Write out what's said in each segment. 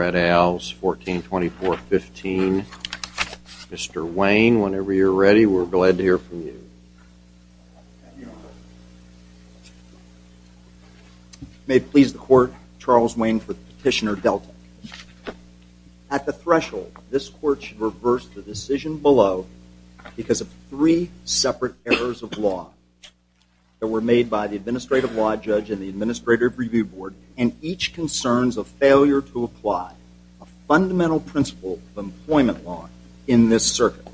at Al's, 142415. Mr. Wayne, whenever you're ready, we're glad to hear from you. May it please the Court, Charles Wayne for Petitioner Deltek. At the threshold, this that were made by the Administrative Law Judge and the Administrative Review Board, and each concerns a failure to apply a fundamental principle of employment law in this circuit.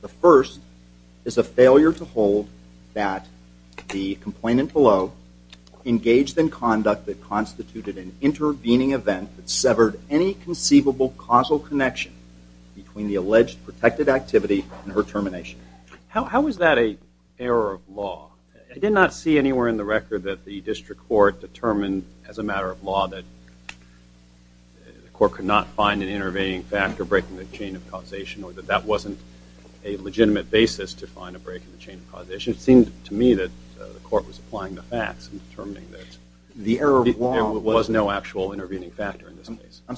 The first is a failure to hold that the complainant below engaged in conduct that constituted an intervening event that severed any conceivable causal connection between the alleged protected activity and her termination. How is that an error of law? I did not see anywhere in the record that the district court determined as a matter of law that the court could not find an intervening factor breaking the chain of causation, or that that wasn't a legitimate basis to find a break in the chain of causation. It seemed to me that the court was applying the facts and determining that there was no actual intervening factor in this case. I'm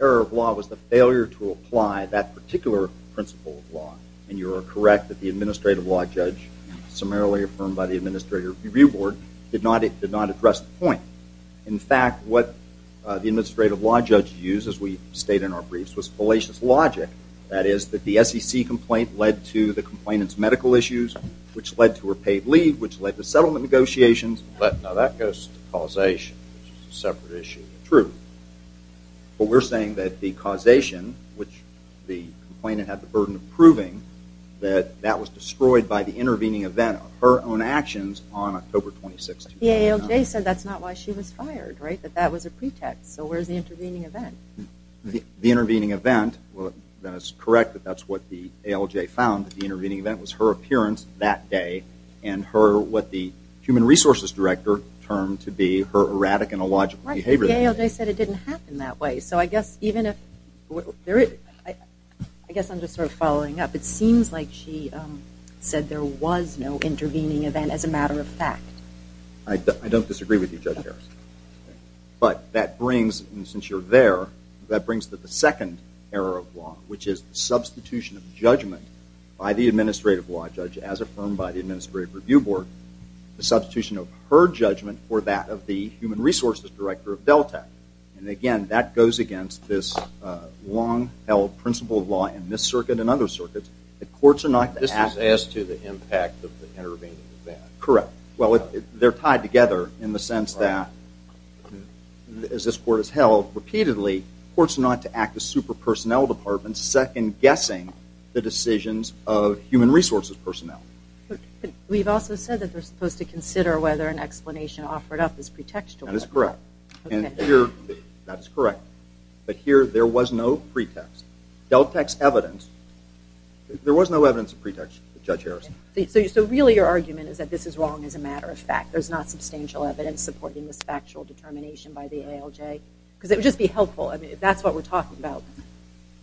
of law was the failure to apply that particular principle of law. And you are correct that the Administrative Law Judge, summarily affirmed by the Administrative Review Board, did not address the point. In fact, what the Administrative Law Judge used, as we state in our briefs, was fallacious logic. That is, that the SEC complaint led to the complainant's medical issues, which led to her paid leave, which led to settlement negotiations. But now that goes to causation, which is a separate issue than truth. But we're saying that the causation, which the complainant had the burden of proving, that that was destroyed by the intervening event of her own actions on October 26, 2009. The ALJ said that's not why she was fired, right? That that was a pretext. So where's the intervening event? The intervening event, well, then it's correct that that's what the ALJ found. The intervening event was her appearance that day, and what the Human Resources Director termed to be her erratic and illogical behavior. Right, but the ALJ said it didn't happen that way. So I guess even if there is, I guess I'm just sort of following up. It seems like she said there was no intervening event as a matter of fact. I don't disagree with you, Judge Harris. But that brings, and since you're there, that brings the second error of law, which is substitution of judgment by the Administrative Law Judge, as affirmed by the Administrative Review Board, the substitution of her judgment for that of the Human Resources Director of Delta. And again, that goes against this long-held principle of law in this circuit and other circuits, that courts are not to act. This is as to the impact of the intervening event. Correct. Well, they're tied together in the sense that, as this court has held repeatedly, courts are not to act as super-personnel departments, second-guessing the decisions of Human Resources personnel. But we've also said that they're supposed to consider whether an explanation offered up is pretextual. That is correct. And here, that is correct. But here, there was no pretext. Delta's evidence, there was no evidence of pretext, Judge Harris. So really, your argument is that this is wrong as a matter of fact. There's not substantial evidence supporting this factual determination by the ALJ? Because it would just be helpful. I mean, if that's what we're talking about,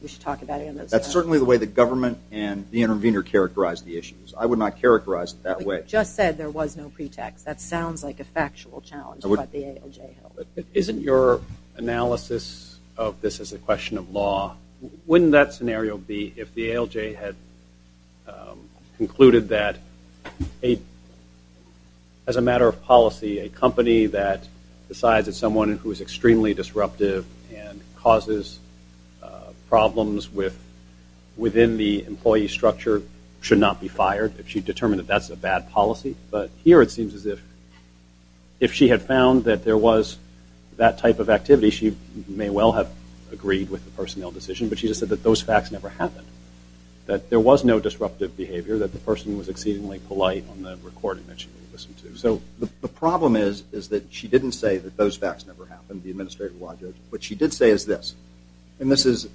we should talk about it in those terms. That's certainly the way the government and the intervener characterized the issues. I would not characterize it that way. But you just said there was no pretext. That sounds like a factual challenge about the ALJ. But isn't your analysis of this as a question of law, wouldn't that scenario be if the ALJ had concluded that, as a matter of policy, a company that decides it's someone who is within the employee structure should not be fired, if she determined that that's a bad policy? But here, it seems as if, if she had found that there was that type of activity, she may well have agreed with the personnel decision. But she just said that those facts never happened, that there was no disruptive behavior, that the person was exceedingly polite on the recording that she listened to. So the problem is that she didn't say that those facts never happened, the Administrator What she did say is this. And this is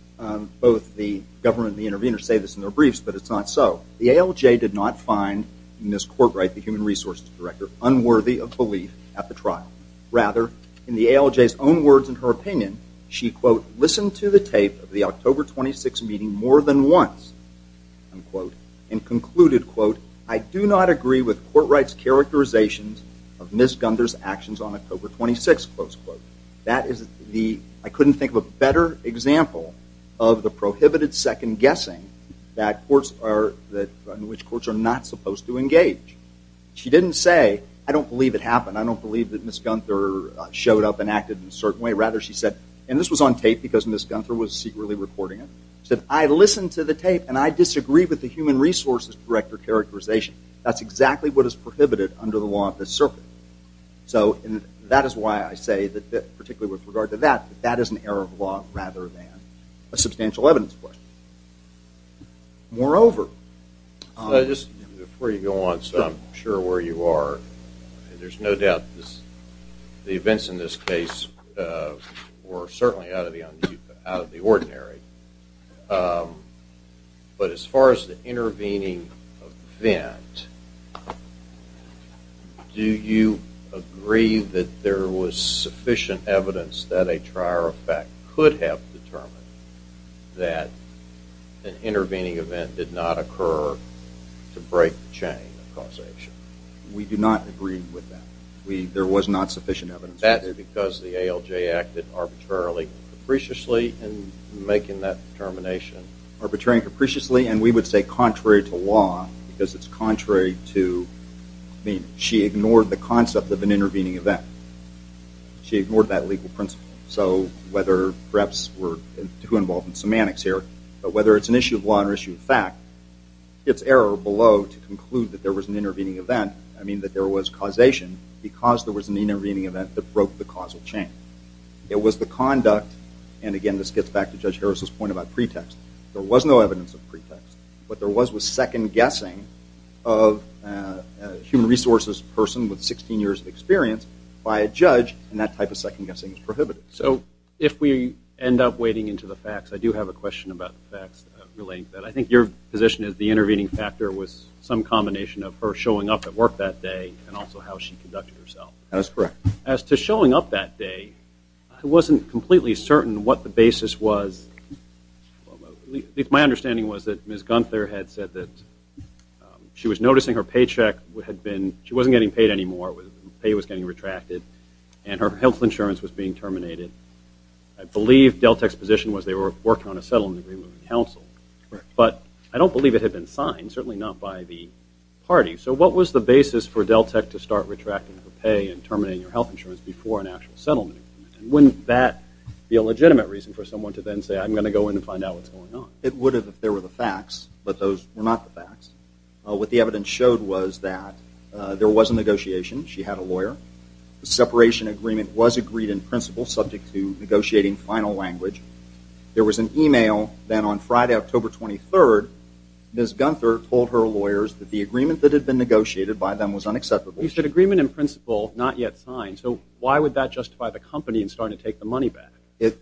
both the government and the intervener say this in their briefs, but it's not so. The ALJ did not find Ms. Courtright, the Human Resources Director, unworthy of belief at the trial. Rather, in the ALJ's own words and her opinion, she, quote, listened to the tape of the October 26 meeting more than once, unquote, and concluded, quote, I do not agree with Courtright's I couldn't think of a better example of the prohibited second guessing in which courts are not supposed to engage. She didn't say, I don't believe it happened. I don't believe that Ms. Gunther showed up and acted in a certain way. Rather, she said, and this was on tape because Ms. Gunther was secretly recording it, she said, I listened to the tape, and I disagree with the Human Resources Director characterization. That's exactly what is prohibited under the law of this circuit. So that is why I say that, particularly with regard to that, that is an error of law rather than a substantial evidence question. Moreover, So just before you go on, so I'm sure where you are, there's no doubt the events in this case were certainly out of the ordinary. But as far as the intervening event, do you agree that there was sufficient evidence that a trier effect could have determined that an intervening event did not occur to break the chain of causation? We do not agree with that. There was not sufficient evidence. That's because the ALJ acted arbitrarily, capriciously in making that determination. Arbitrary and capriciously, and we would say contrary to law, because it's contrary to I mean, she ignored the concept of an intervening event. She ignored that legal principle. So whether perhaps we're too involved in semantics here, but whether it's an issue of law or an issue of fact, it's error below to conclude that there was an intervening event, I mean that there was causation because there was an intervening event that broke the causal chain. It was the conduct, and again, this gets back to Judge Harris's point about pretext. There was no evidence of pretext. What there was was second-guessing of a human resources person with 16 years of experience by a judge, and that type of second-guessing is prohibited. So if we end up wading into the facts, I do have a question about facts relating to that. I think your position is the intervening factor was some combination of her showing up at that day and also how she conducted herself. That's correct. As to showing up that day, I wasn't completely certain what the basis was. My understanding was that Ms. Gunther had said that she was noticing her paycheck had been, she wasn't getting paid anymore, her pay was getting retracted, and her health insurance was being terminated. I believe Deltek's position was they were working on a settlement agreement with the council, but I don't believe it had been signed, certainly not by the party. So what was the basis for Deltek to start retracting her pay and terminating her health insurance before an actual settlement agreement? Wouldn't that be a legitimate reason for someone to then say, I'm going to go in and find out what's going on? It would have if there were the facts, but those were not the facts. What the evidence showed was that there was a negotiation. She had a lawyer. The separation agreement was agreed in principle, subject to negotiating final language. There was an email then on Friday, October 23rd, Ms. Gunther told her lawyers that the agreement that had been negotiated by them was unacceptable. You said agreement in principle, not yet signed. So why would that justify the company in starting to take the money back?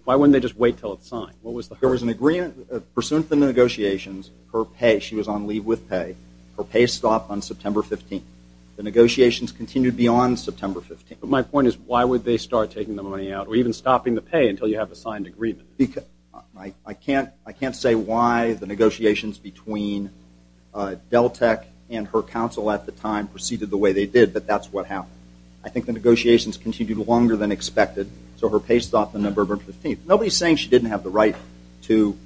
Why wouldn't they just wait until it's signed? There was an agreement, pursuant to negotiations, her pay, she was on leave with pay. Her pay stopped on September 15th. The negotiations continued beyond September 15th. But my point is, why would they start taking the money out or even stopping the pay until you have a signed agreement? I can't say why the negotiations between Deltek and her counsel at the time proceeded the way they did, but that's what happened. I think the negotiations continued longer than expected, so her pay stopped on November 15th. Nobody's saying she didn't have the right to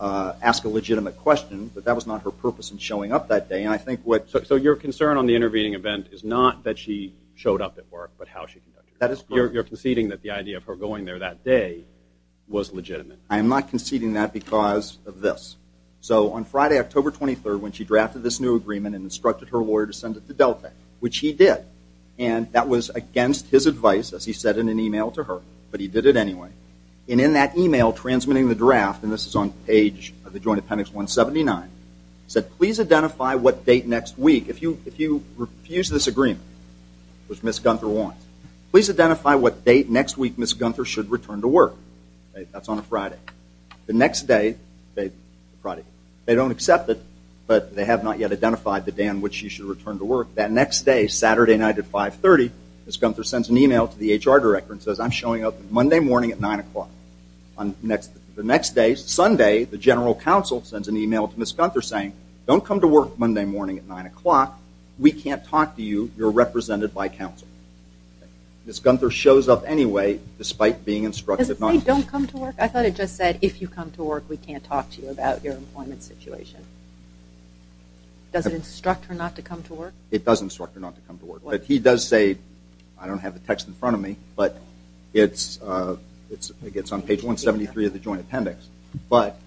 ask a legitimate question, but that was not her purpose in showing up that day. So your concern on the intervening event is not that she showed up at work, but how she conducted herself. You're conceding that the idea of her going there that day was legitimate. I am not conceding that because of this. So on Friday, October 23rd, when she drafted this new agreement and instructed her lawyer to send it to Deltek, which he did, and that was against his advice, as he said in an email to her, but he did it anyway. And in that email transmitting the draft, and this is on page of the Joint Appendix 179, said, please identify what date next week Ms. Gunther should return to work. That's on a Friday. The next day, they don't accept it, but they have not yet identified the day on which she should return to work. That next day, Saturday night at 5.30, Ms. Gunther sends an email to the HR director and says, I'm showing up Monday morning at 9 o'clock. The next day, Sunday, the general counsel sends an email to Ms. Gunther saying, don't come to work Monday morning at 9 o'clock. We can't talk to you. You're represented by counsel. Ms. Gunther shows up anyway, despite being instructed not to. Does it say, don't come to work? I thought it just said, if you come to work, we can't talk to you about your employment situation. Does it instruct her not to come to work? It does instruct her not to come to work. But he does say, I don't have the text in front of me, but it's on page 173 of the Joint Appendix. But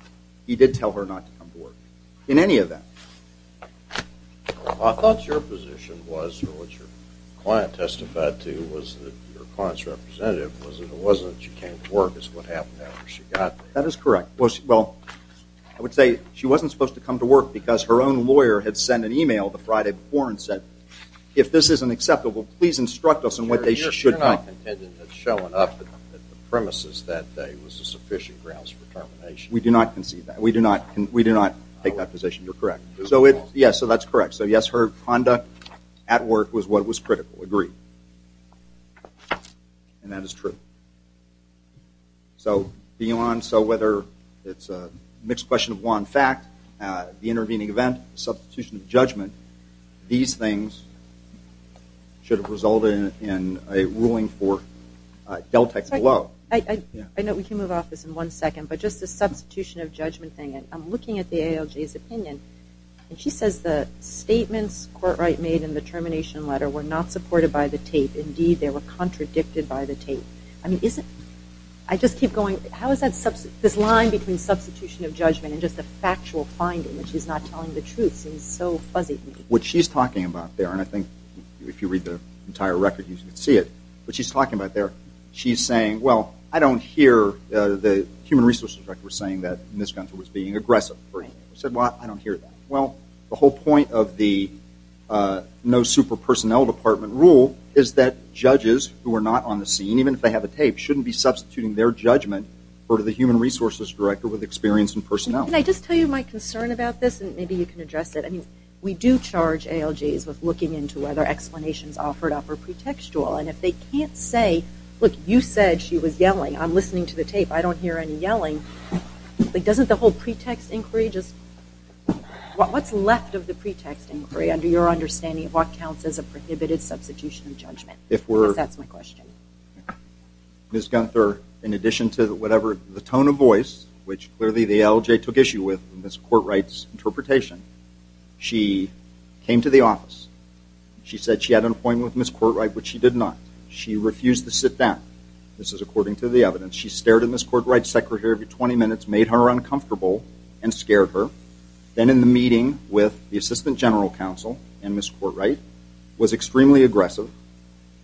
he did tell her not to come to work in any of that. I thought your position was, or what your client testified to, was that your client's representative was that it wasn't that she came to work. It's what happened after she got there. That is correct. Well, I would say she wasn't supposed to come to work because her own lawyer had sent an email the Friday before and said, if this isn't acceptable, please instruct us on what they should not. You're not contending that showing up at the premises that day was a sufficient grounds for termination. We do not concede that. We do not take that position. You're correct. Yes, so that's correct. So yes, her conduct at work was what was critical. Agree. And that is true. So beyond so whether it's a mixed question of law and fact, the intervening event, substitution of judgment, these things should have resulted in a ruling for Deltec below. I know we can move off this in one second, but just the substitution of judgment thing, I'm looking at the ALJ's opinion and she says the statements Courtright made in the termination letter were not supported by the tape. Indeed, they were contradicted by the tape. I just keep going, how is this line between substitution of judgment and just the factual finding that she's not telling the truth seems so fuzzy to me. What she's talking about there, and I think if you read the entire record you should see it, what she's talking about there, she's saying, well, I don't hear the Human Resources Director saying that Ms. Gunther was being aggressive. I said, well, I don't hear that. Well, the whole point of the no super personnel department rule is that judges who are not on the scene, even if they have a tape, shouldn't be substituting their judgment for the Human Resources Director with experience and personnel. Can I just tell you my concern about this and maybe you can address it? We do charge ALJs with looking into whether explanations offered up are pretextual, and if they can't say, look, you said she was yelling. I'm listening to the tape. I don't hear any yelling. Doesn't the whole pretext inquiry just, what's left of the pretext inquiry under your understanding of what counts as a prohibited substitution of judgment? Because that's my question. Ms. Gunther, in addition to whatever, the tone of voice, which clearly the ALJ took issue with in Ms. Courtright's interpretation, she came to the office, she said she had an excuse to sit down. This is according to the evidence. She stared at Ms. Courtright's secretary for 20 minutes, made her uncomfortable, and scared her. Then in the meeting with the Assistant General Counsel and Ms. Courtright, was extremely aggressive,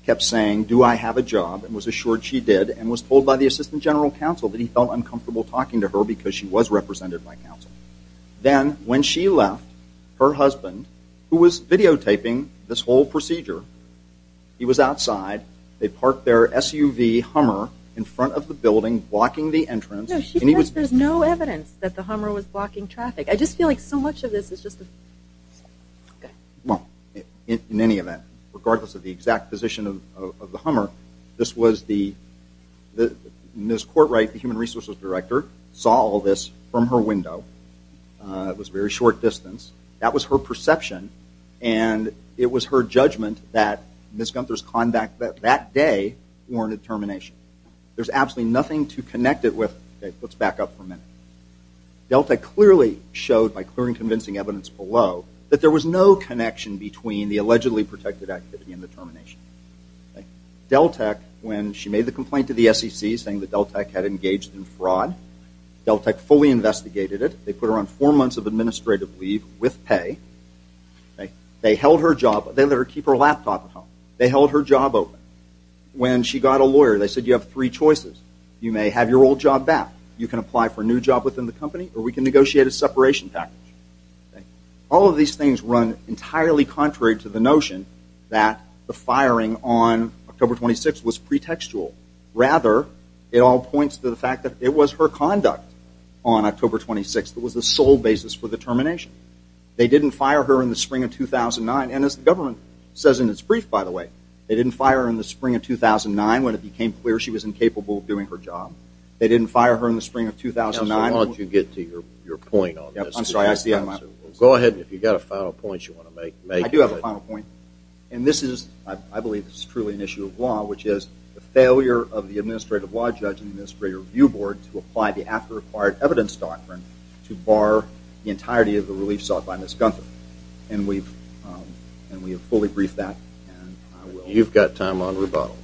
kept saying, do I have a job, and was assured she did, and was told by the Assistant General Counsel that he felt uncomfortable talking to her because she was represented by counsel. Then when she left, her husband, who was videotaping this whole procedure, he was outside. They parked their SUV Hummer in front of the building, blocking the entrance. No, she says there's no evidence that the Hummer was blocking traffic. I just feel like so much of this is just a... Well, in any event, regardless of the exact position of the Hummer, this was the... Ms. Courtright, the Human Resources Director, saw all this from her window. It was very short distance. That was her perception, and it was her judgment that Ms. Gunther's conduct that day warranted termination. There's absolutely nothing to connect it with. Let's back up for a minute. Deltek clearly showed, by clear and convincing evidence below, that there was no connection between the allegedly protected activity and the termination. Deltek, when she made the complaint to the SEC, saying that Deltek had engaged in fraud, Deltek fully investigated it. They put her on four months of administrative leave with pay. They held her job. They let her keep her laptop at home. They held her job open. When she got a lawyer, they said, you have three choices. You may have your old job back. You can apply for a new job within the company, or we can negotiate a separation package. All of these things run entirely contrary to the notion that the firing on October 26 was pretextual. Rather, it all points to the fact that it was her conduct on October 26 that was the sole basis for the termination. They didn't fire her in the spring of 2009. And as the government says in its brief, by the way, they didn't fire her in the spring of 2009 when it became clear she was incapable of doing her job. They didn't fire her in the spring of 2009. Now, so why don't you get to your point on this? I'm sorry. I see I'm out. Go ahead. And if you've got a final point you want to make, make it. I do have a final point. And this is, I believe, truly an issue of law, which is the failure of the administrative law judge and the Administrative Review Board to apply the after-acquired evidence doctrine to bar the entirety of the relief sought by Ms. Gunther. And we have fully briefed that. You've got time on rebuttal.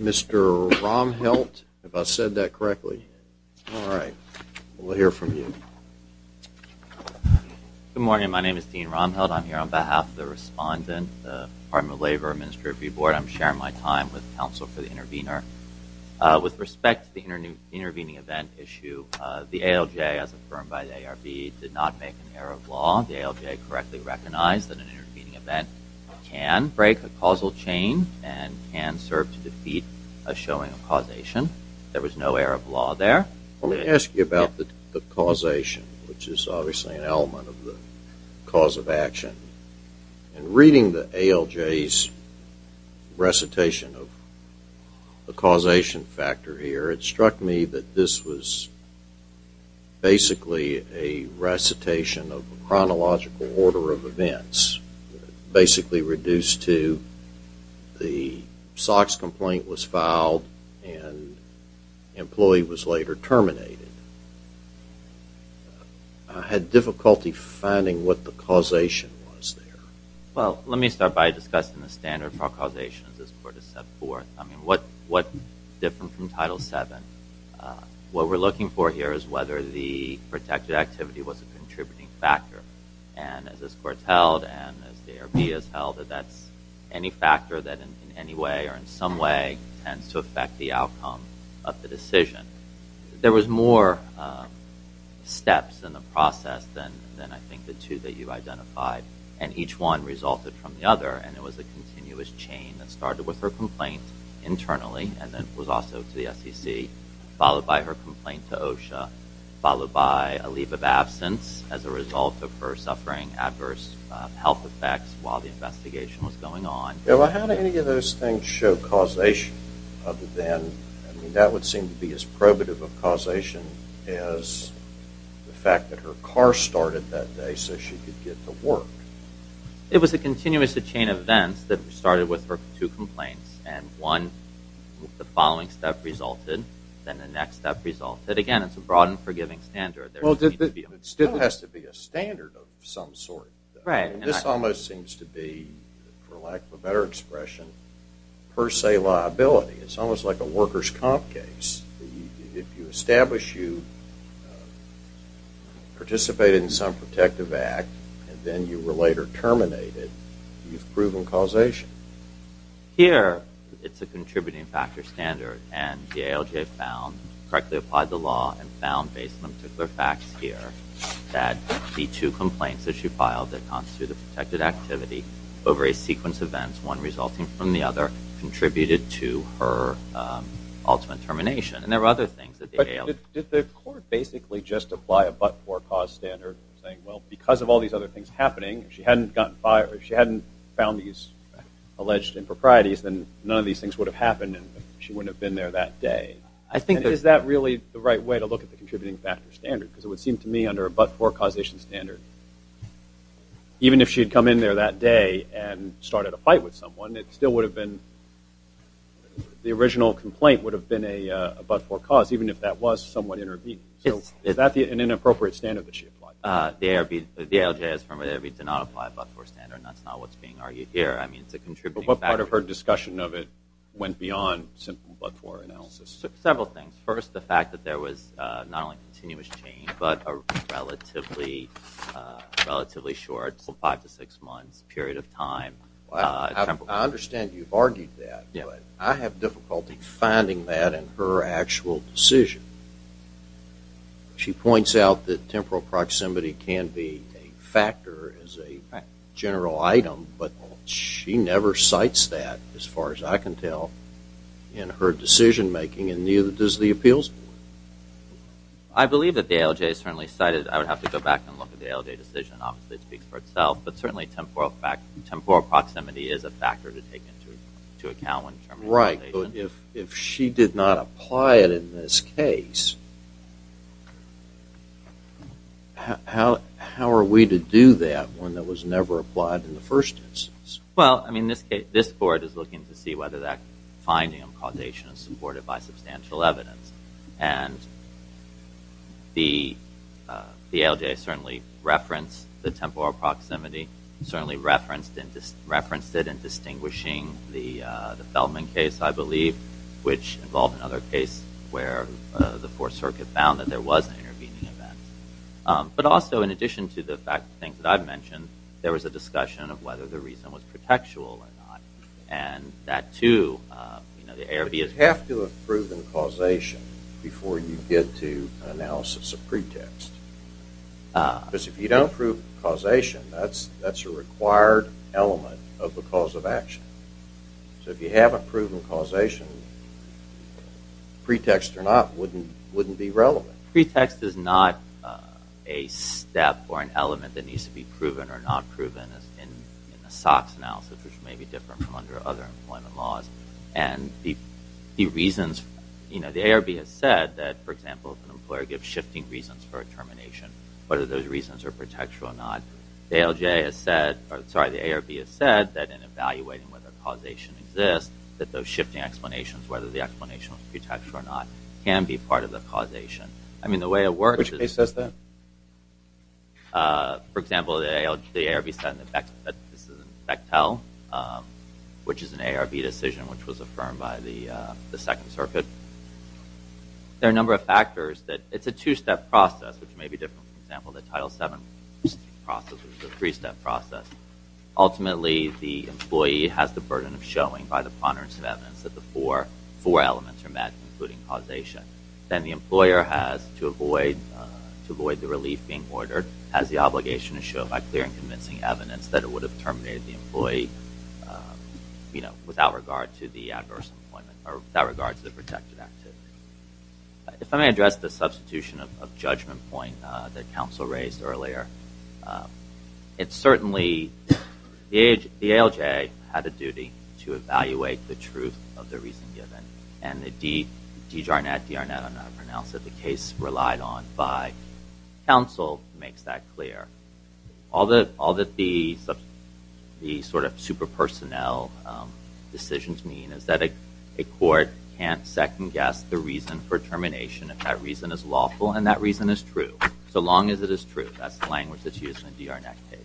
Mr. Romhelt, if I said that correctly. All right. We'll hear from you. Good morning. My name is Dean Romhelt. I'm here on behalf of the respondent, the Department of Labor, Administrative Review Board. I'm sharing my time with counsel for the intervener. With respect to the intervening event issue, the ALJ, as affirmed by the ARB, did not make an error of law. The ALJ correctly recognized that an intervening event can break a causal chain and can serve to defeat a showing of causation. There was no error of law there. Let me ask you about the causation, which is obviously an element of the cause of action. In reading the ALJ's recitation of the causation factor here, it struck me that this was basically a recitation of a chronological order of events, basically reduced to the SOX complaint was there. Well, let me start by discussing the standard for causation as this Court has set forth. What's different from Title VII, what we're looking for here is whether the protected activity was a contributing factor. As this Court's held, and as the ARB has held, that's any factor that in any way or in some way tends to affect the outcome of the decision. There was more steps in the process than I think the two that you identified, and each one resulted from the other, and it was a continuous chain that started with her complaint internally and then was also to the SEC, followed by her complaint to OSHA, followed by a leave of absence as a result of her suffering adverse health effects while the investigation was going on. How do any of those things show causation other than, that would seem to be as probative of causation as the fact that her car started that day so she could get to work? It was a continuous chain of events that started with her two complaints, and one, the following step resulted, then the next step resulted. Again, it's a broad and forgiving standard. It still has to be a standard of some sort. This almost seems to be, for lack of a better expression, per se liability. It's almost like a workers' comp case. If you establish you participated in some protective act and then you were later terminated, you've proven causation. Here, it's a contributing factor standard, and the ALJ found, correctly applied the law and found, based on particular facts here, that the two complaints that she filed that constitute a protected activity over a sequence of events, one resulting from the other, contributed to her ultimate termination. And there were other things that the ALJ... Did the court basically just apply a but-for-cause standard saying, well, because of all these other things happening, if she hadn't gotten fired, if she hadn't found these alleged improprieties, then none of these things would have happened and she wouldn't have been there that day? Is that really the right way to look at the contributing factor standard? Because it would seem to me, under a but-for-causation standard, even if she had come in there that day and started a fight with someone, it still would have been... the original complaint would have been a but-for-cause, even if that was someone intervening. So is that an inappropriate standard that she applied? The ALJ has firmly argued to not apply a but-for-standard. That's not what's being argued here. I mean, it's a contributing factor. But what part of her discussion of it went beyond simple but-for analysis? Several things. First, the fact that there was not only continuous change, but a relatively short, five to six months period of time. I understand you've argued that, but I have difficulty finding that in her actual decision. She points out that temporal proximity can be a factor as a general item, but she never cites that, as far as I can tell, in her decision-making, and neither does the appeals board. I believe that the ALJ certainly cited... I would have to go back and look at the ALJ decision. Obviously, it speaks for itself. But certainly, temporal proximity is a factor to take into account when determining... Right. But if she did not apply it in this case, how are we to do that when that was never applied in the first instance? Well, I mean, this board is looking to see whether that finding and causation is supported by substantial evidence. And the ALJ certainly referenced the temporal proximity, certainly referenced it in distinguishing the Feldman case, I believe, which involved another case where the Fourth Circuit found that there was an intervening event. But also, in addition to the things that I've mentioned, there was a discussion of whether the reason was pretextual or not. And that, too... But you have to have proven causation before you get to analysis of pretext. Because if you don't prove causation, that's a required element of the cause of action. So if you haven't proven causation, pretext or not wouldn't be relevant. But pretext is not a step or an element that needs to be proven or not proven in the SOX analysis, which may be different from other employment laws. And the reasons... The ARB has said that, for example, if an employer gives shifting reasons for a termination, whether those reasons are pretextual or not, the ARB has said that in evaluating whether causation exists, that those shifting explanations, whether the explanation was pretextual or not, can be part of the causation. I mean, the way it works is... Which case says that? For example, the ARB said in the Bechtel, which is an ARB decision which was affirmed by the Second Circuit, there are a number of factors that... It's a two-step process, which may be different from, for example, the Title VII process, which is a three-step process. Ultimately, the employee has the burden of showing by the ponderance of evidence that the four elements are met, including causation. Then the employer has to avoid the relief being ordered, has the obligation to show by clear and convincing evidence that it would have terminated the employee, you know, without regard to the adverse employment, or without regard to the protected activity. If I may address the substitution of judgment point that counsel raised earlier, it's certainly... The ALJ had a duty to evaluate the truth of the reason given, and the DJAR-Net, DR-Net, I'm not going to pronounce it, the case relied on by counsel, makes that clear. All that the sort of super-personnel decisions mean is that a court can't second-guess the reason for termination, if that reason is lawful and that reason is true, so long as it is true. That's the language that's used in a DR-Net case.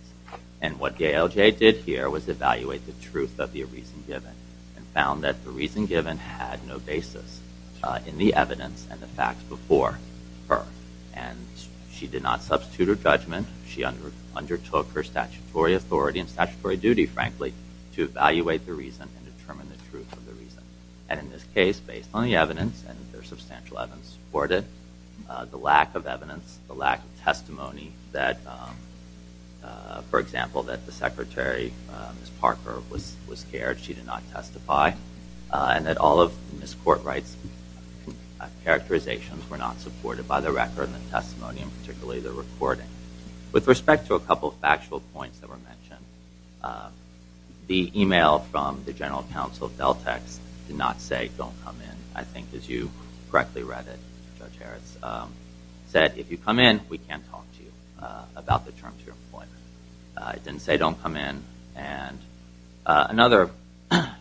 And what the ALJ did here was evaluate the truth of the reason given, and found that the reason given had no basis in the evidence and the facts before her. And she did not substitute her judgment, she undertook her statutory authority and statutory duty, frankly, to evaluate the reason and determine the truth of the reason. And in this case, based on the evidence, and there's substantial evidence to support it, the lack of evidence, the lack of testimony that, for example, that the Secretary, Ms. Parker, was scared she did not testify, and that all of Ms. Courtwright's characterizations were not supported by the record and the testimony, and particularly the recording. With respect to a couple of factual points that were mentioned, the email from the General Counsel of DelTex did not say, don't come in. I think, as you correctly read it, Judge Harris, said, if you come in, we can't talk to you about the term to your employment. It didn't say, don't come in. And another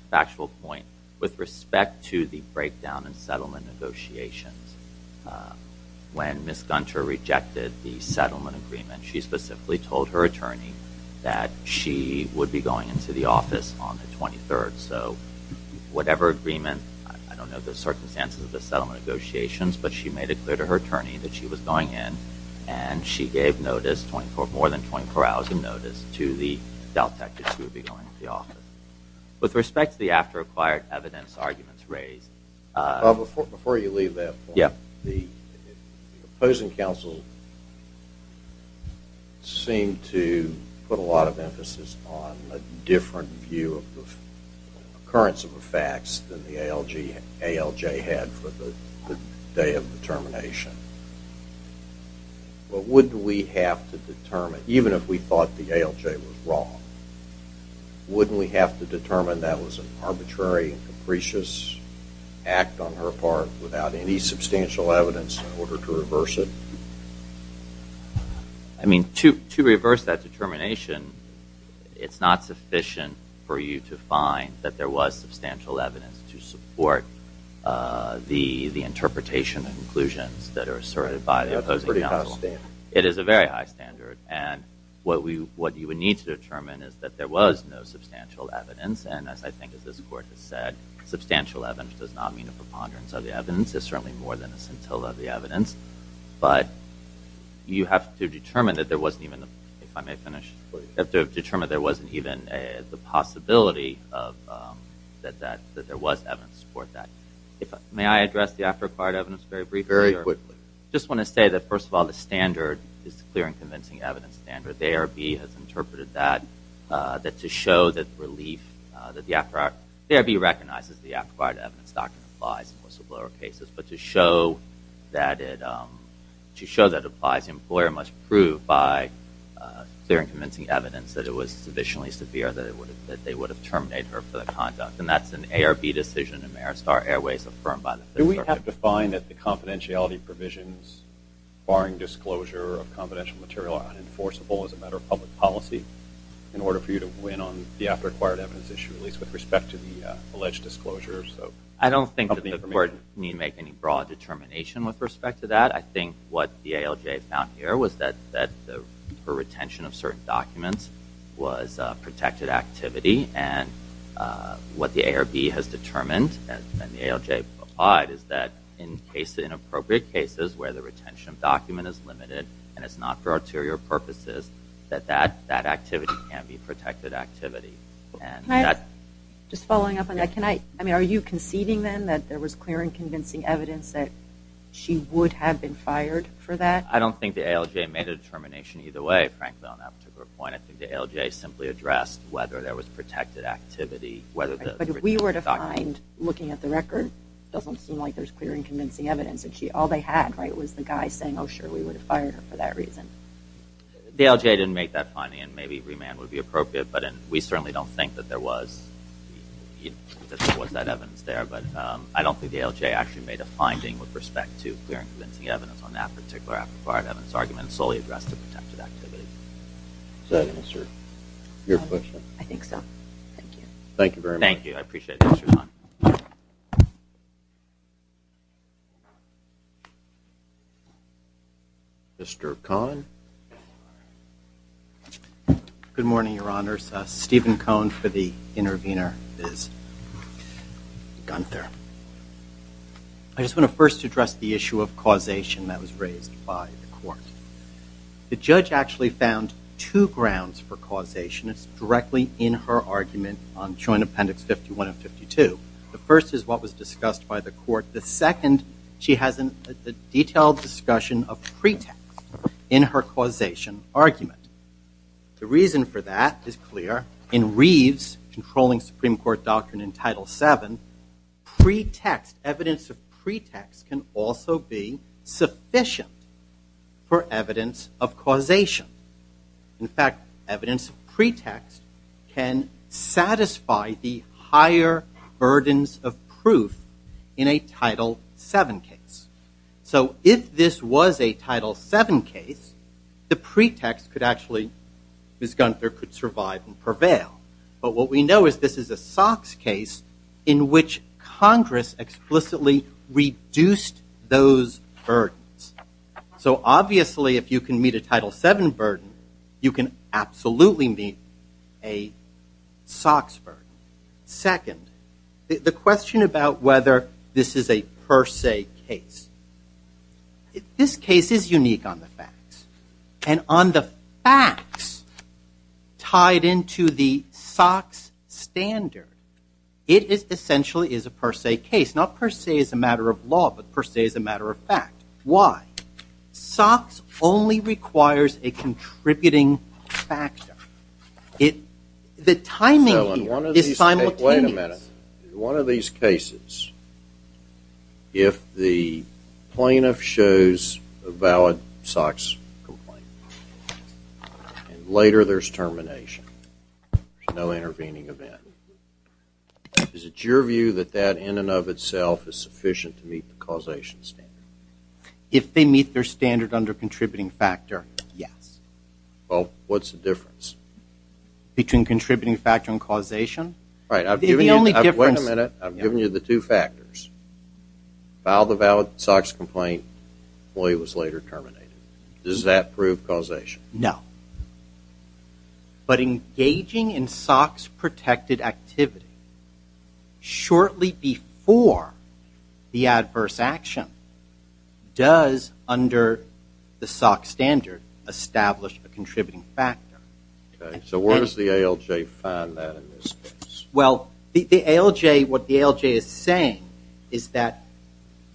factual point, with respect to the breakdown and settlement negotiations, when Ms. Gunter rejected the settlement agreement, she specifically told her attorney that she would be going into the office on the 23rd. So, whatever agreement, I don't know the circumstances of the settlement negotiations, but she made it clear to her attorney that she was going in, and she gave notice, more than 24 hours in notice, to the DelTex, that she would be going into the office. With respect to the after-acquired evidence arguments raised... Before you leave that point, the opposing counsel seemed to put a lot of emphasis on a different view of the occurrence of the facts than the ALJ had for the day of determination. But wouldn't we have to determine, even if we thought the ALJ was wrong, wouldn't we depart without any substantial evidence in order to reverse it? I mean, to reverse that determination, it's not sufficient for you to find that there was substantial evidence to support the interpretation and conclusions that are asserted by the opposing counsel. That's a pretty high standard. It is a very high standard. And what you would need to determine is that there was no substantial evidence, and as I think as this Court has said, substantial evidence does not mean a preponderance of the evidence. It's certainly more than a scintilla of the evidence. But you have to determine that there wasn't even, if I may finish, you have to determine that there wasn't even the possibility that there was evidence to support that. May I address the after-acquired evidence very briefly? Very quickly. I just want to say that, first of all, the standard is a clear and convincing evidence standard. I think that ARB has interpreted that to show that relief, that the after-acquired, ARB recognizes the after-acquired evidence doctrine applies in whistleblower cases, but to show that it applies, the employer must prove by clear and convincing evidence that it was sufficiently severe that they would have terminated her for the conduct. And that's an ARB decision in Maristar Airways affirmed by the Federal Circuit. Do we have to find that the confidentiality provisions, barring disclosure of confidential material, are unenforceable as a matter of public policy in order for you to win on the after-acquired evidence issue, at least with respect to the alleged disclosures? I don't think that the court need make any broad determination with respect to that. I think what the ALJ found here was that the retention of certain documents was protected activity. And what the ARB has determined, and the ALJ applied, is that in appropriate cases where the retention of document is limited and it's not for arterial purposes, that that activity can be protected activity. Just following up on that, are you conceding then that there was clear and convincing evidence that she would have been fired for that? I don't think the ALJ made a determination either way, frankly, on that particular point. I think the ALJ simply addressed whether there was protected activity. But if we were to find, looking at the record, it doesn't seem like there's clear and convincing evidence. The ALJ didn't make that finding, and maybe remand would be appropriate, but we certainly don't think that there was that evidence there. But I don't think the ALJ actually made a finding with respect to clear and convincing evidence on that particular after-acquired evidence argument solely addressed to protected activity. Does that answer your question? I think so. Thank you. Thank you very much. Thank you. I appreciate it. Thanks for your time. Mr. Cohn. Good morning, Your Honors. Stephen Cohn for the intervener, Ms. Gunther. I just want to first address the issue of causation that was raised by the court. The judge actually found two grounds for causation. It's directly in her argument on Joint Appendix 51 and 52. The first is what was discussed by the court. The second, she has a detailed discussion of pretext in her causation argument. The reason for that is clear. In Reeves' Controlling Supreme Court Doctrine in Title VII, pretext, evidence of pretext can also be sufficient for evidence of causation. In fact, evidence of pretext can satisfy the higher burdens of proof in a Title VII case. So if this was a Title VII case, the pretext could actually, Ms. Gunther, could survive and prevail. But what we know is this is a Sox case in which Congress explicitly reduced those burdens. So obviously, if you can meet a Title VII burden, you can absolutely meet a Sox burden. Second, the question about whether this is a per se case. This case is unique on the facts. And on the facts tied into the Sox standard, it essentially is a per se case. It's not per se as a matter of law, but per se as a matter of fact. Why? Sox only requires a contributing factor. The timing here is simultaneous. Wait a minute. One of these cases, if the plaintiff shows a valid Sox complaint, and later there's termination, there's no intervening event. Is it your view that that in and of itself is sufficient to meet the causation standard? If they meet their standard under contributing factor, yes. Well, what's the difference? Between contributing factor and causation? Right. Wait a minute. I've given you the two factors. Filed a valid Sox complaint, employee was later terminated. Does that prove causation? No. But engaging in Sox protected activity shortly before the adverse action does, under the Sox standard, establish a contributing factor. So where does the ALJ find that in this case? Well, what the ALJ is saying is that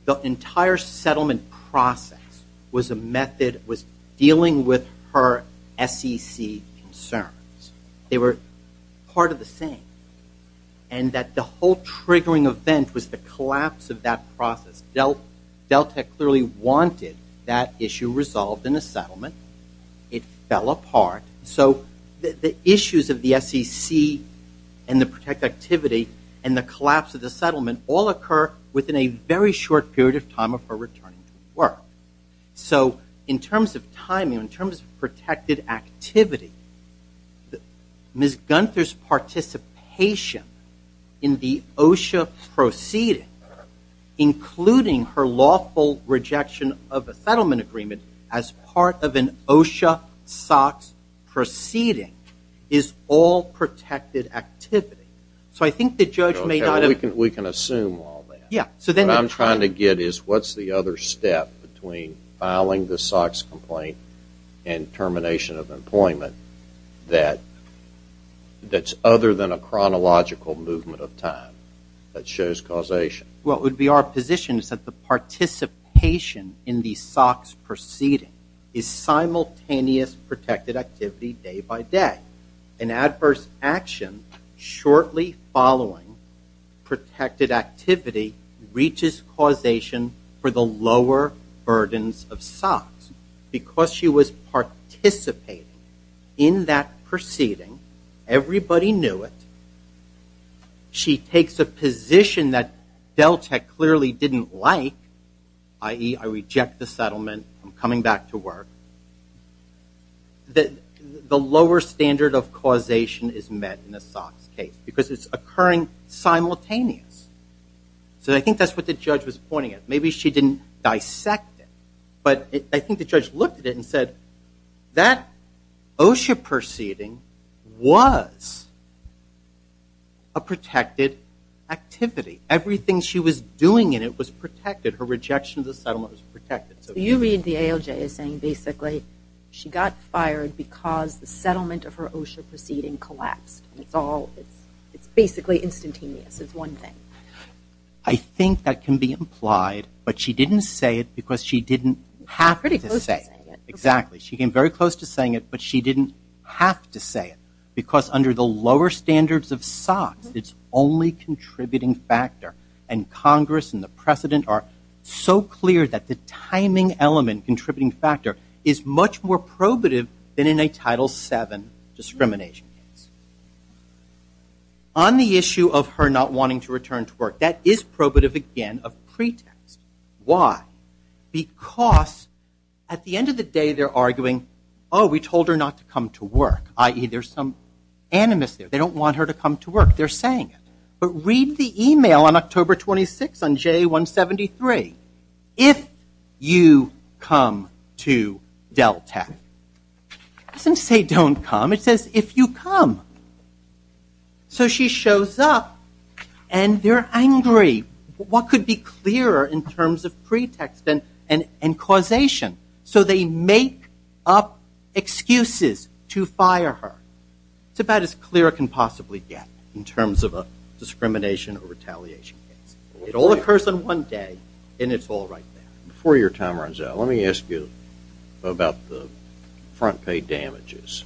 the entire settlement process was a method, was dealing with her SEC concerns. They were part of the same. And that the whole triggering event was the collapse of that process. Delta clearly wanted that issue resolved in a settlement. It fell apart. So the issues of the SEC and the protected activity and the collapse of the settlement all occur within a very short period of time of her returning to work. So in terms of timing, in terms of protected activity, Ms. Gunther's participation in the OSHA proceeding, including her lawful rejection of a settlement agreement as part of an OSHA Sox proceeding, is all protected activity. So I think the judge may not have... We can assume all that. What I'm trying to get is what's the other step between filing the Sox complaint and termination of employment that's other than a chronological movement of time that shows causation? Well, it would be our position is that the participation in the Sox proceeding is simultaneous protected activity day by day. An adverse action shortly following protected activity reaches causation for the lower burdens of Sox. Because she was participating in that proceeding, everybody knew it. She takes a position that Delta clearly didn't like, i.e., I reject the settlement. I'm coming back to work. The lower standard of causation is met in the Sox case because it's occurring simultaneous. So I think that's what the judge was pointing at. Maybe she didn't dissect it, but I think the judge looked at it and said that OSHA proceeding was a protected activity. Everything she was doing in it was protected. Her rejection of the settlement was protected. You read the ALJ as saying basically she got fired because the settlement of her OSHA proceeding collapsed. It's basically instantaneous is one thing. I think that can be implied, but she didn't say it because she didn't have to say it. Exactly. She came very close to saying it, but she didn't have to say it because under the lower standards of Sox, it's the only contributing factor. And Congress and the President are so clear that the timing element, contributing factor, is much more probative than in a Title VII discrimination case. On the issue of her not wanting to return to work, that is probative again of pretext. Why? Because at the end of the day, they're arguing, oh, we told her not to come to work. I.e., there's some animus there. They don't want her to come to work. They're saying it. But read the email on October 26 on JA173. If you come to Dell Tech. It doesn't say don't come. It says if you come. So she shows up and they're angry. What could be clearer in terms of pretext and causation? So they make up excuses to fire her. It's about as clear as it can possibly get in terms of a discrimination or retaliation case. It all occurs in one day, and it's all right there. Before your time runs out, let me ask you about the front pay damages.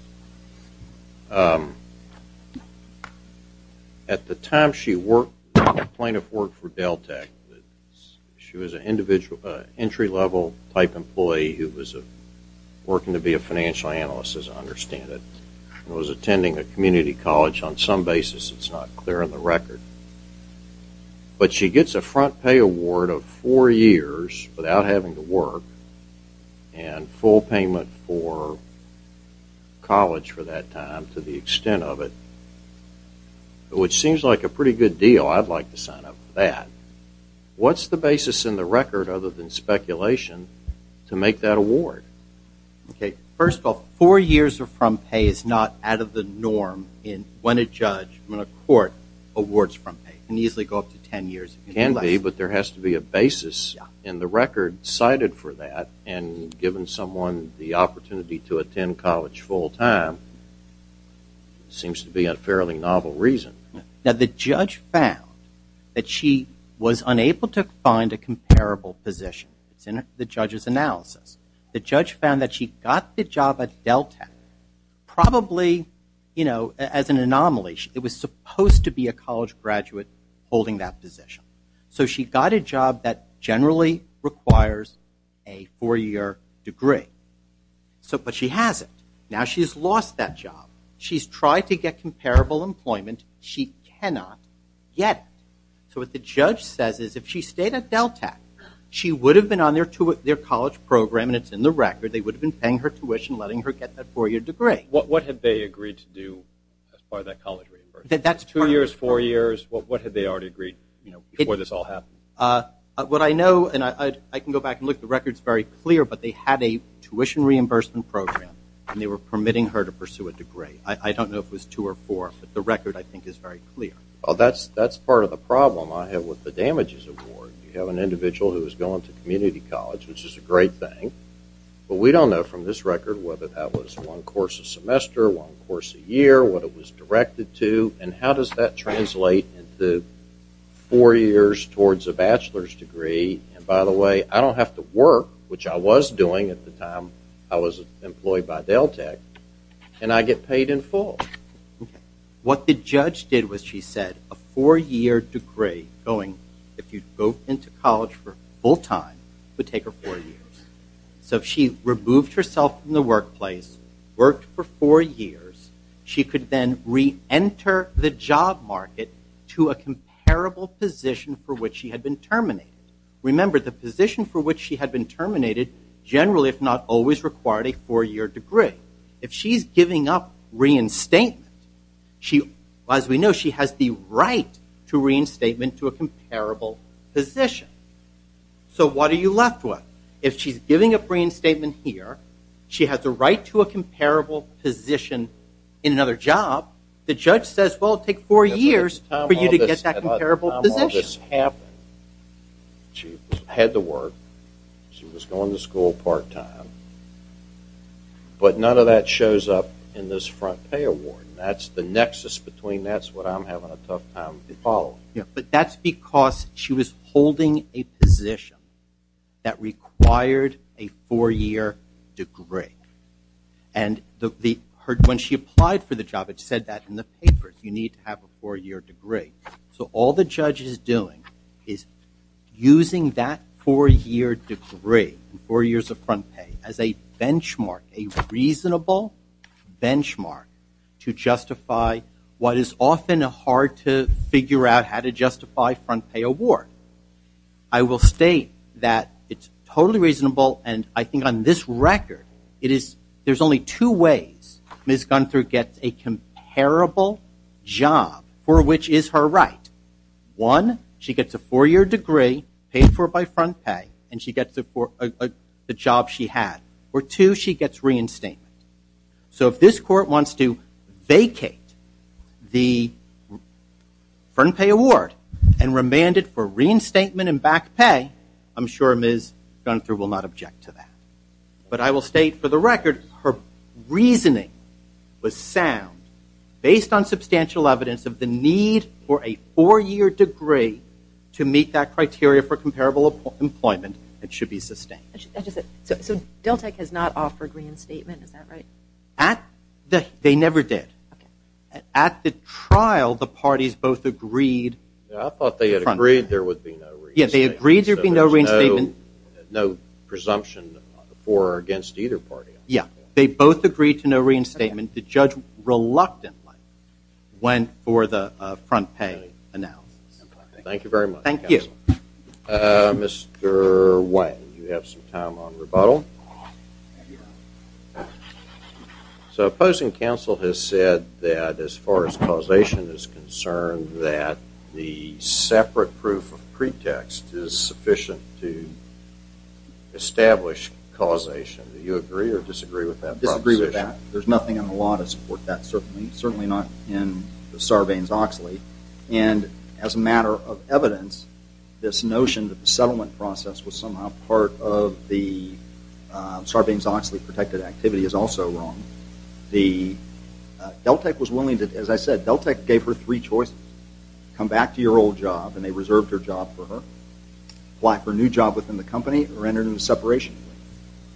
At the time she worked, the plaintiff worked for Dell Tech, she was an entry-level type employee who was working to be a financial analyst, as I understand it, and was attending a community college on some basis. It's not clear on the record. But she gets a front pay award of four years without having to work and full payment for college for that time to the extent of it, which seems like a pretty good deal. I'd like to sign up for that. What's the basis in the record other than speculation to make that award? First of all, four years of front pay is not out of the norm when a judge, when a court awards front pay. It can easily go up to ten years. It can be, but there has to be a basis. And the record cited for that and given someone the opportunity to attend college full time seems to be a fairly novel reason. Now, the judge found that she was unable to find a comparable position. It's in the judge's analysis. The judge found that she got the job at Dell Tech probably as an anomaly. It was supposed to be a college graduate holding that position. So she got a job that generally requires a four-year degree. But she hasn't. Now she's lost that job. She's tried to get comparable employment. She cannot get it. So what the judge says is if she stayed at Dell Tech, she would have been on their college program, and it's in the record. They would have been paying her tuition letting her get that four-year degree. What had they agreed to do as part of that college reimbursement? Two years, four years? What had they already agreed before this all happened? What I know, and I can go back and look, the record's very clear, but they had a tuition reimbursement program and they were permitting her to pursue a degree. I don't know if it was two or four, but the record, I think, is very clear. Well, that's part of the problem I have with the damages award. You have an individual who has gone to community college, which is a great thing, but we don't know from this record whether that was one course a semester, one course a year, what it was directed to, and how does that translate into four years towards a bachelor's degree? And by the way, I don't have to work, which I was doing at the time I was employed by Dell Tech, and I get paid in full. What the judge did was she said a four-year degree going, if you go into college full-time, would take her four years. So if she removed herself from the workplace, worked for four years, she could then re-enter the job market to a comparable position for which she had been terminated. Remember, the position for which she had been terminated generally, if not always, required a four-year degree. If she's giving up reinstatement, as we know, she has the right to reinstatement to a comparable position. So what are you left with? If she's giving up reinstatement here, she has the right to a comparable position in another job, the judge says, well, take four years for you to get that comparable position. She had to work, she was going to school part-time, but none of that shows up in this front pay award. That's the nexus between that's what I'm having a tough time following. But that's because she was holding a position that required a four-year degree. And when she applied for the job, it said that in the paper, you need to have a four-year degree. So all the judge is doing is using that four-year degree, four years of front pay, as a benchmark, a reasonable benchmark to justify what is often hard to figure out how to justify front pay award. I will state that it's totally reasonable, and I think on this record, there's only two ways Ms. Gunther gets a comparable job for which is her right. One, she gets a four-year degree paid for by front pay and she gets the job she had. Or two, she gets reinstatement. So if this court wants to vacate the front pay award and remand it for reinstatement and back pay, I'm sure Ms. Gunther will not object to that. But I will state for the record, her reasoning was sound based on substantial evidence of the need for a four-year degree to meet that criteria for comparable employment and it should be sustained. So DelTec has not offered reinstatement, is that right? They never did. At the trial, the parties both agreed. I thought they had agreed there would be no reinstatement. There's no presumption for or against either party. Yeah, they both agreed to no reinstatement. The judge reluctantly went for the front pay analysis. Thank you very much. Thank you. Mr. Wang, you have some time on rebuttal. So opposing counsel has said that as far as causation is concerned that the separate proof of pretext is sufficient to establish causation. Do you agree or disagree with that proposition? Disagree with that. There's nothing in the law to support that. Certainly not in Sarbanes-Oxley. And as a matter of evidence this notion that the settlement process was somehow part of the Sarbanes-Oxley protected activity is also wrong. The, DelTec was willing to, as I said, DelTec gave her three choices. Come back to your old job and they reserved her job for her. Apply for a new job within the company or enter into a separation agreement.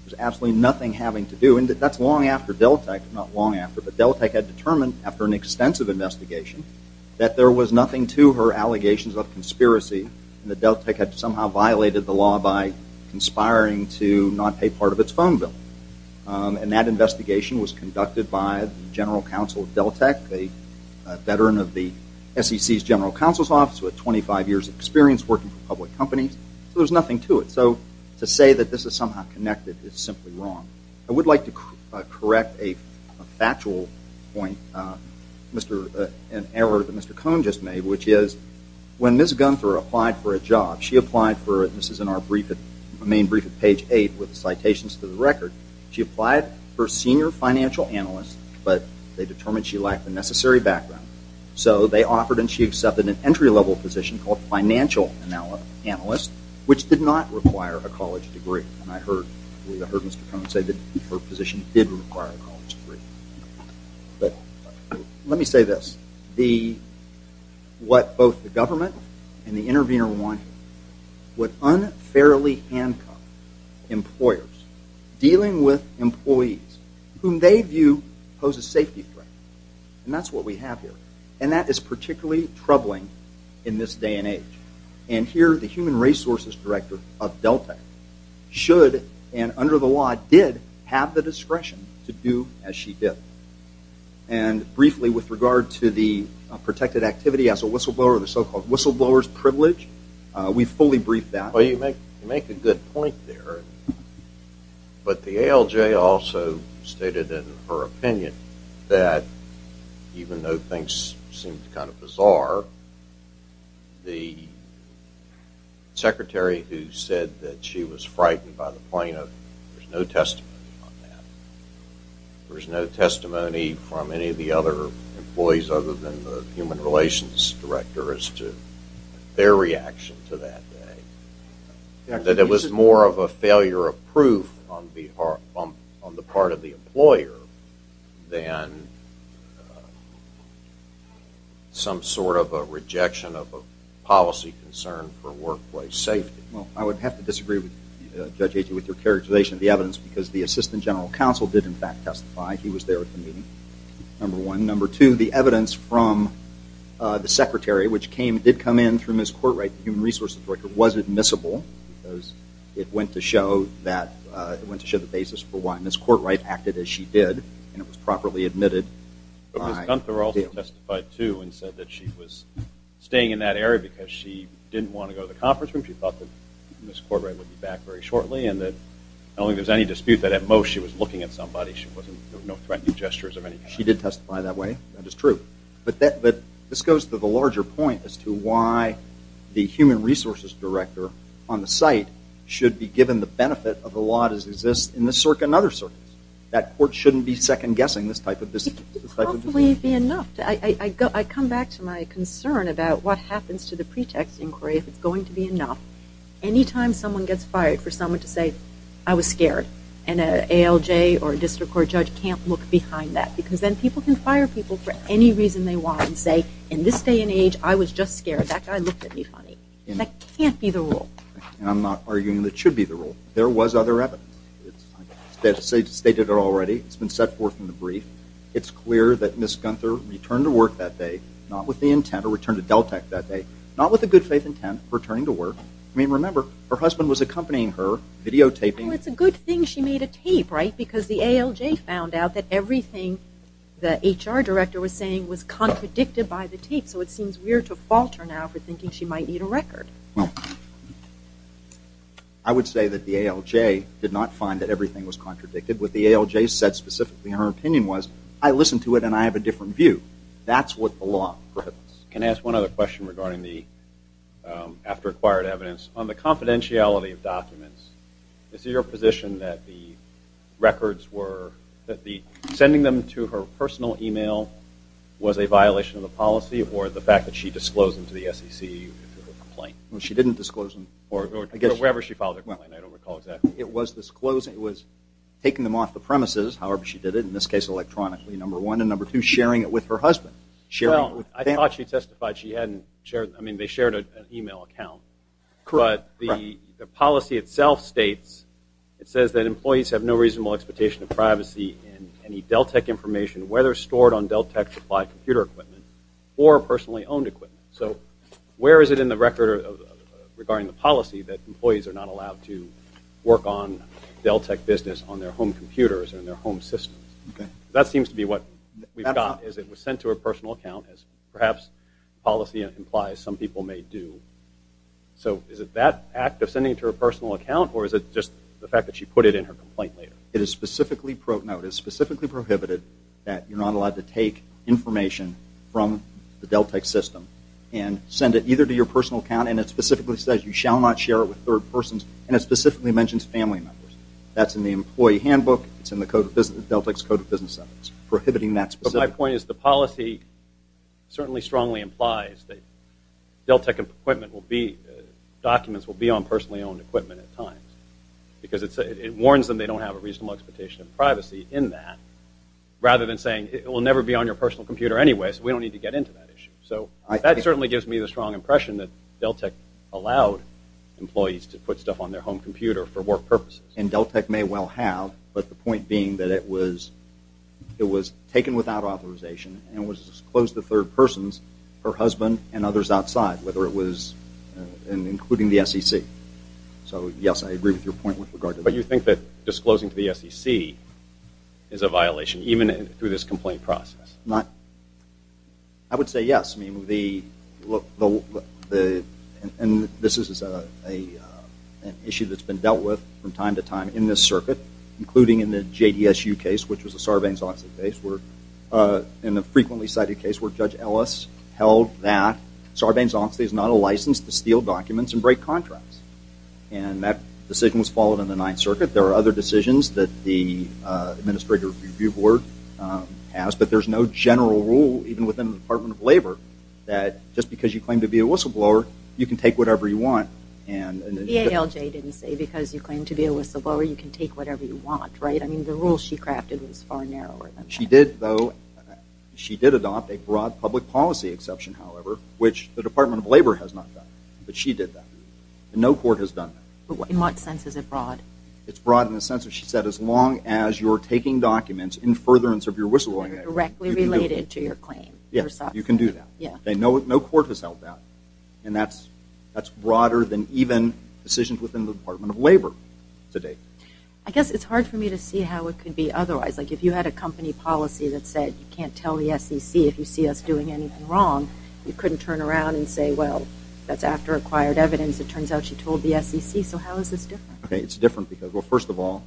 There's absolutely nothing having to do, and that's long after DelTec, not long after, but DelTec had determined after an extensive investigation that there was nothing to her allegations of conspiracy and that DelTec had somehow violated the law by conspiring to not pay part of its phone bill. And that investigation was conducted by the general counsel of DelTec, a veteran of the SEC's general counsel's office with 25 years experience working for public companies. So there's nothing to it. So to say that this is somehow connected is simply wrong. I would like to correct a factual point and error that Mr. Cohn just made, which is when Ms. Gunther applied for a job, she applied for, this is in our brief, the main brief at page 8 with the citations to the record, she applied for senior financial analyst, but they determined she lacked the necessary background. So they offered and she accepted an entry level position called financial analyst, which did not require a college degree. And I heard Mr. Cohn say that her position did require a college degree. But let me say this. The what both the government and the intervener wanted would unfairly handcuff employers dealing with employees whom they view pose a safety threat. And that's what we have here. And that is particularly troubling in this day and age. And here the human resources director of DelTec should and under the law did have the discretion to do as she did. And briefly with regard to the protected activity as a whistleblower, the so-called whistleblower's privilege, we fully briefed that. Well you make a good point there. But the ALJ also stated in her opinion that even though things seemed kind of bizarre, the secretary who said that she was frightened by the point there's no testimony on that. There's no testimony from any of the other employees other than the human relations director as to their reaction to that day. That it was more of a failure of proof on the part of the employer than some sort of a rejection of a policy concern for workplace safety. Well I would have to disagree with Judge Agee with your characterization of the evidence because the assistant general counsel did in fact testify. He was there at the meeting, number one. Number two, the evidence from the secretary, which came, did come in through Ms. Courtright, the human resources director, was admissible because it went to show that, it went to show the basis for why Ms. Courtright acted as she did and it was properly admitted by. But Ms. Gunther also testified too and said that she was staying in that area because she didn't want to go to the conference room. She thought that Ms. Courtright would be back very shortly and that I don't think there's any dispute that at most she was looking at somebody. There were no threatening gestures of any kind. She did testify that way. That is true. But this goes to the larger point as to why the human resources director on the site should be given the benefit of the law as it exists in this circuit and other circuits. That court shouldn't be second-guessing this type of decision. I come back to my concern about what happens to the pretext inquiry if it's going to be enough. Anytime someone gets fired for someone to say I was scared and an ALJ or a district court judge can't look behind that because then people can fire people for any reason they want and say in this day and age I was just scared. That guy looked at me funny. That can't be the rule. And I'm not arguing that it should be the rule. There was other evidence. It's stated already. It's been set forth in the brief. It's clear that Ms. Gunther returned to work that day, not with the intent to return to DelTec that day, not with a good faith intent returning to work. I mean, remember, her husband was accompanying her, videotaping. It's a good thing she made a tape, right? Because the ALJ found out that everything the HR director was saying was contradicted by the tape. So it seems weird to fault her now for thinking she might need a record. I would say that the ALJ did not find that everything was contradicted. What the ALJ said specifically in her opinion was, I listened to it and I have a different view. That's what the law prohibits. Can I ask one other question regarding the after-acquired evidence. On the confidentiality of documents, is it your position that the records were, that sending them to her personal email was a violation of the policy or the fact that she disclosed them to the SEC in her complaint? She didn't disclose them. Or wherever she filed it. I don't recall exactly. It was taking them off the premises, however she shared it with her husband. Well, I thought she testified she hadn't shared, I mean they shared an email account. But the policy itself states it says that employees have no reasonable expectation of privacy in any DelTec information, whether stored on DelTec supply computer equipment or personally owned equipment. So where is it in the record regarding the policy that employees are not allowed to work on DelTec business on their home computers and their home systems? That seems to be what we've got, is it was sent to her personal account as perhaps policy implies some people may do. So is it that act of sending it to her personal account or is it just the fact that she put it in her complaint later? It is specifically prohibited that you're not allowed to take information from the DelTec system and send it either to your personal account and it specifically says you shall not share it with third persons and it specifically mentions family members. That's in the code of business sentence. Prohibiting that specific... But my point is the policy certainly strongly implies that DelTec equipment will be documents will be on personally owned equipment at times. Because it warns them they don't have a reasonable expectation of privacy in that. Rather than saying it will never be on your personal computer anyway so we don't need to get into that issue. So that certainly gives me the strong impression that DelTec allowed employees to put stuff on their home computer for work purposes. And DelTec may well have but the point being that it was it was taken without authorization and was disclosed to third persons her husband and others outside whether it was including the SEC. So yes I agree with your point with regard to that. But you think that disclosing to the SEC is a violation even through this complaint process? I would say yes. I mean the and this is a an issue that's been dealt with from time to time in this circuit including in the JDSU case which was a Sarbanes-Oxley case where in the frequently cited case where Judge Ellis held that Sarbanes-Oxley is not a license to steal documents and break contracts. And that decision was followed in the Ninth Circuit. There are other decisions that the Administrative Review Board has but there's no general rule even within the Department of Labor that just because you claim to be a whistleblower you can take whatever you want. The VALJ didn't say because you claim to be a whistleblower you can take whatever you want, right? I mean the rule she crafted was far narrower than that. She did though, she did adopt a broad public policy exception however which the Department of Labor has not done. But she did that. No court has done that. In what sense is it broad? It's broad in the sense that she said as long as you're taking documents in furtherance of your whistleblowing act. They're directly related to your claim. Yes, you can do that. No court has held that. And that's broader than even decisions within the Department of Labor to date. I guess it's hard for me to see how it could be otherwise. Like if you had a company policy that said you can't tell the SEC if you see us doing anything wrong, you couldn't turn around and say well that's after acquired evidence. It turns out she told the SEC. So how is this different? Okay, it's different because well first of all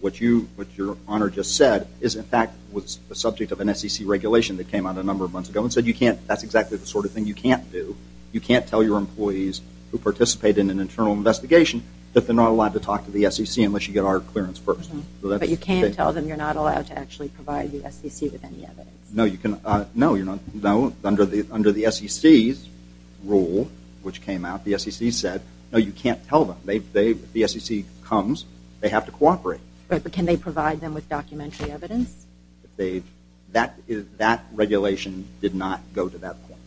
what you what your Honor just said is in fact was a subject of an SEC regulation that came out a number of months ago and said you can't that's exactly the sort of thing you can't do. You can't tell your employees who participate in an internal investigation that they're not allowed to talk to the SEC unless you get our clearance first. But you can't tell them you're not allowed to actually provide the SEC with any evidence. No, you can't. No, under the SEC's rule which came out, the SEC said no you can't tell them. If the SEC comes they have to cooperate. But can they provide them with documentary evidence? That regulation did not go to that point.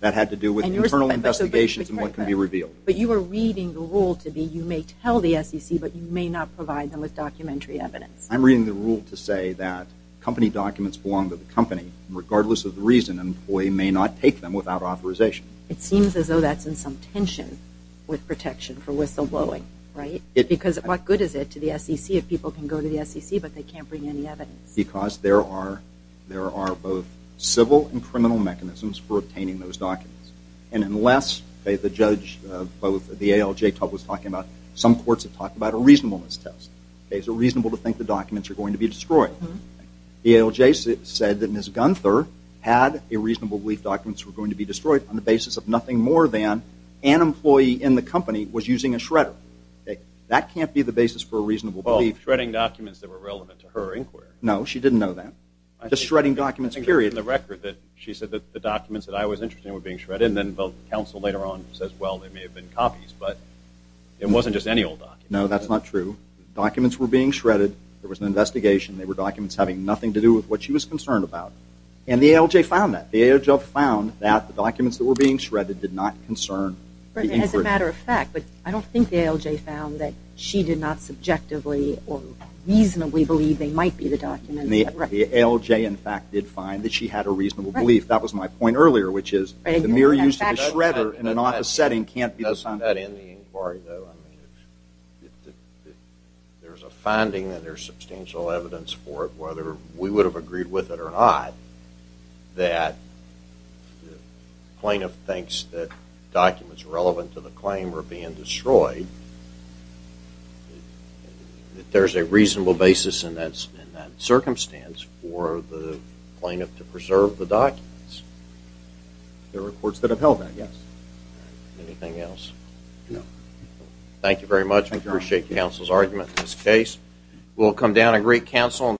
That had to do with internal investigations and what can be revealed. But you were reading the rule to be you may tell the SEC but you may not provide them with documentary evidence. I'm reading the rule to say that company documents belong to the company regardless of the reason an employee may not take them without authorization. It seems as though that's in some tension with protection for whistleblowing, right? Because what good is it to the SEC if people can go to the SEC but they can't bring any evidence? Because there are both civil and criminal mechanisms for obtaining those documents. And unless the judge or the ALJ was talking about some courts have talked about a reasonableness test. It's reasonable to think the documents are going to be destroyed. The ALJ said that Ms. Gunther had a reasonable belief documents were going to be destroyed on the basis of nothing more than an employee in the company was using a shredder. That can't be the basis for a reasonable belief. Well, shredding documents that were relevant to her inquiry. No, she didn't know that. Just shredding documents, period. In the record that she said that the documents that I was interested in were being shredded and then counsel later on says, well, they may have been copies but it wasn't just any old document. No, that's not true. Documents were being shredded. There was an investigation. They were documents having nothing to do with what she was concerned about. And the ALJ found that. The ALJ found that the documents that were being shredded did not concern the inquiry. As a matter of fact, but I don't think the ALJ found that she did not subjectively or reasonably believe they might be the documents. The ALJ, in fact, did find that she had a reasonable belief. That was my point earlier, which is the mere use of a shredder in an office setting can't be the... That's not in the inquiry, though. If there's a finding and there's substantial evidence for it, whether we would have agreed with it or not, that the plaintiff thinks that documents relevant to the claim were being destroyed that there's a reasonable basis in that circumstance for the plaintiff to preserve the documents. There are courts that have held that, yes. Anything else? No. Thank you very much. I appreciate counsel's argument in this case. We'll come down and greet counsel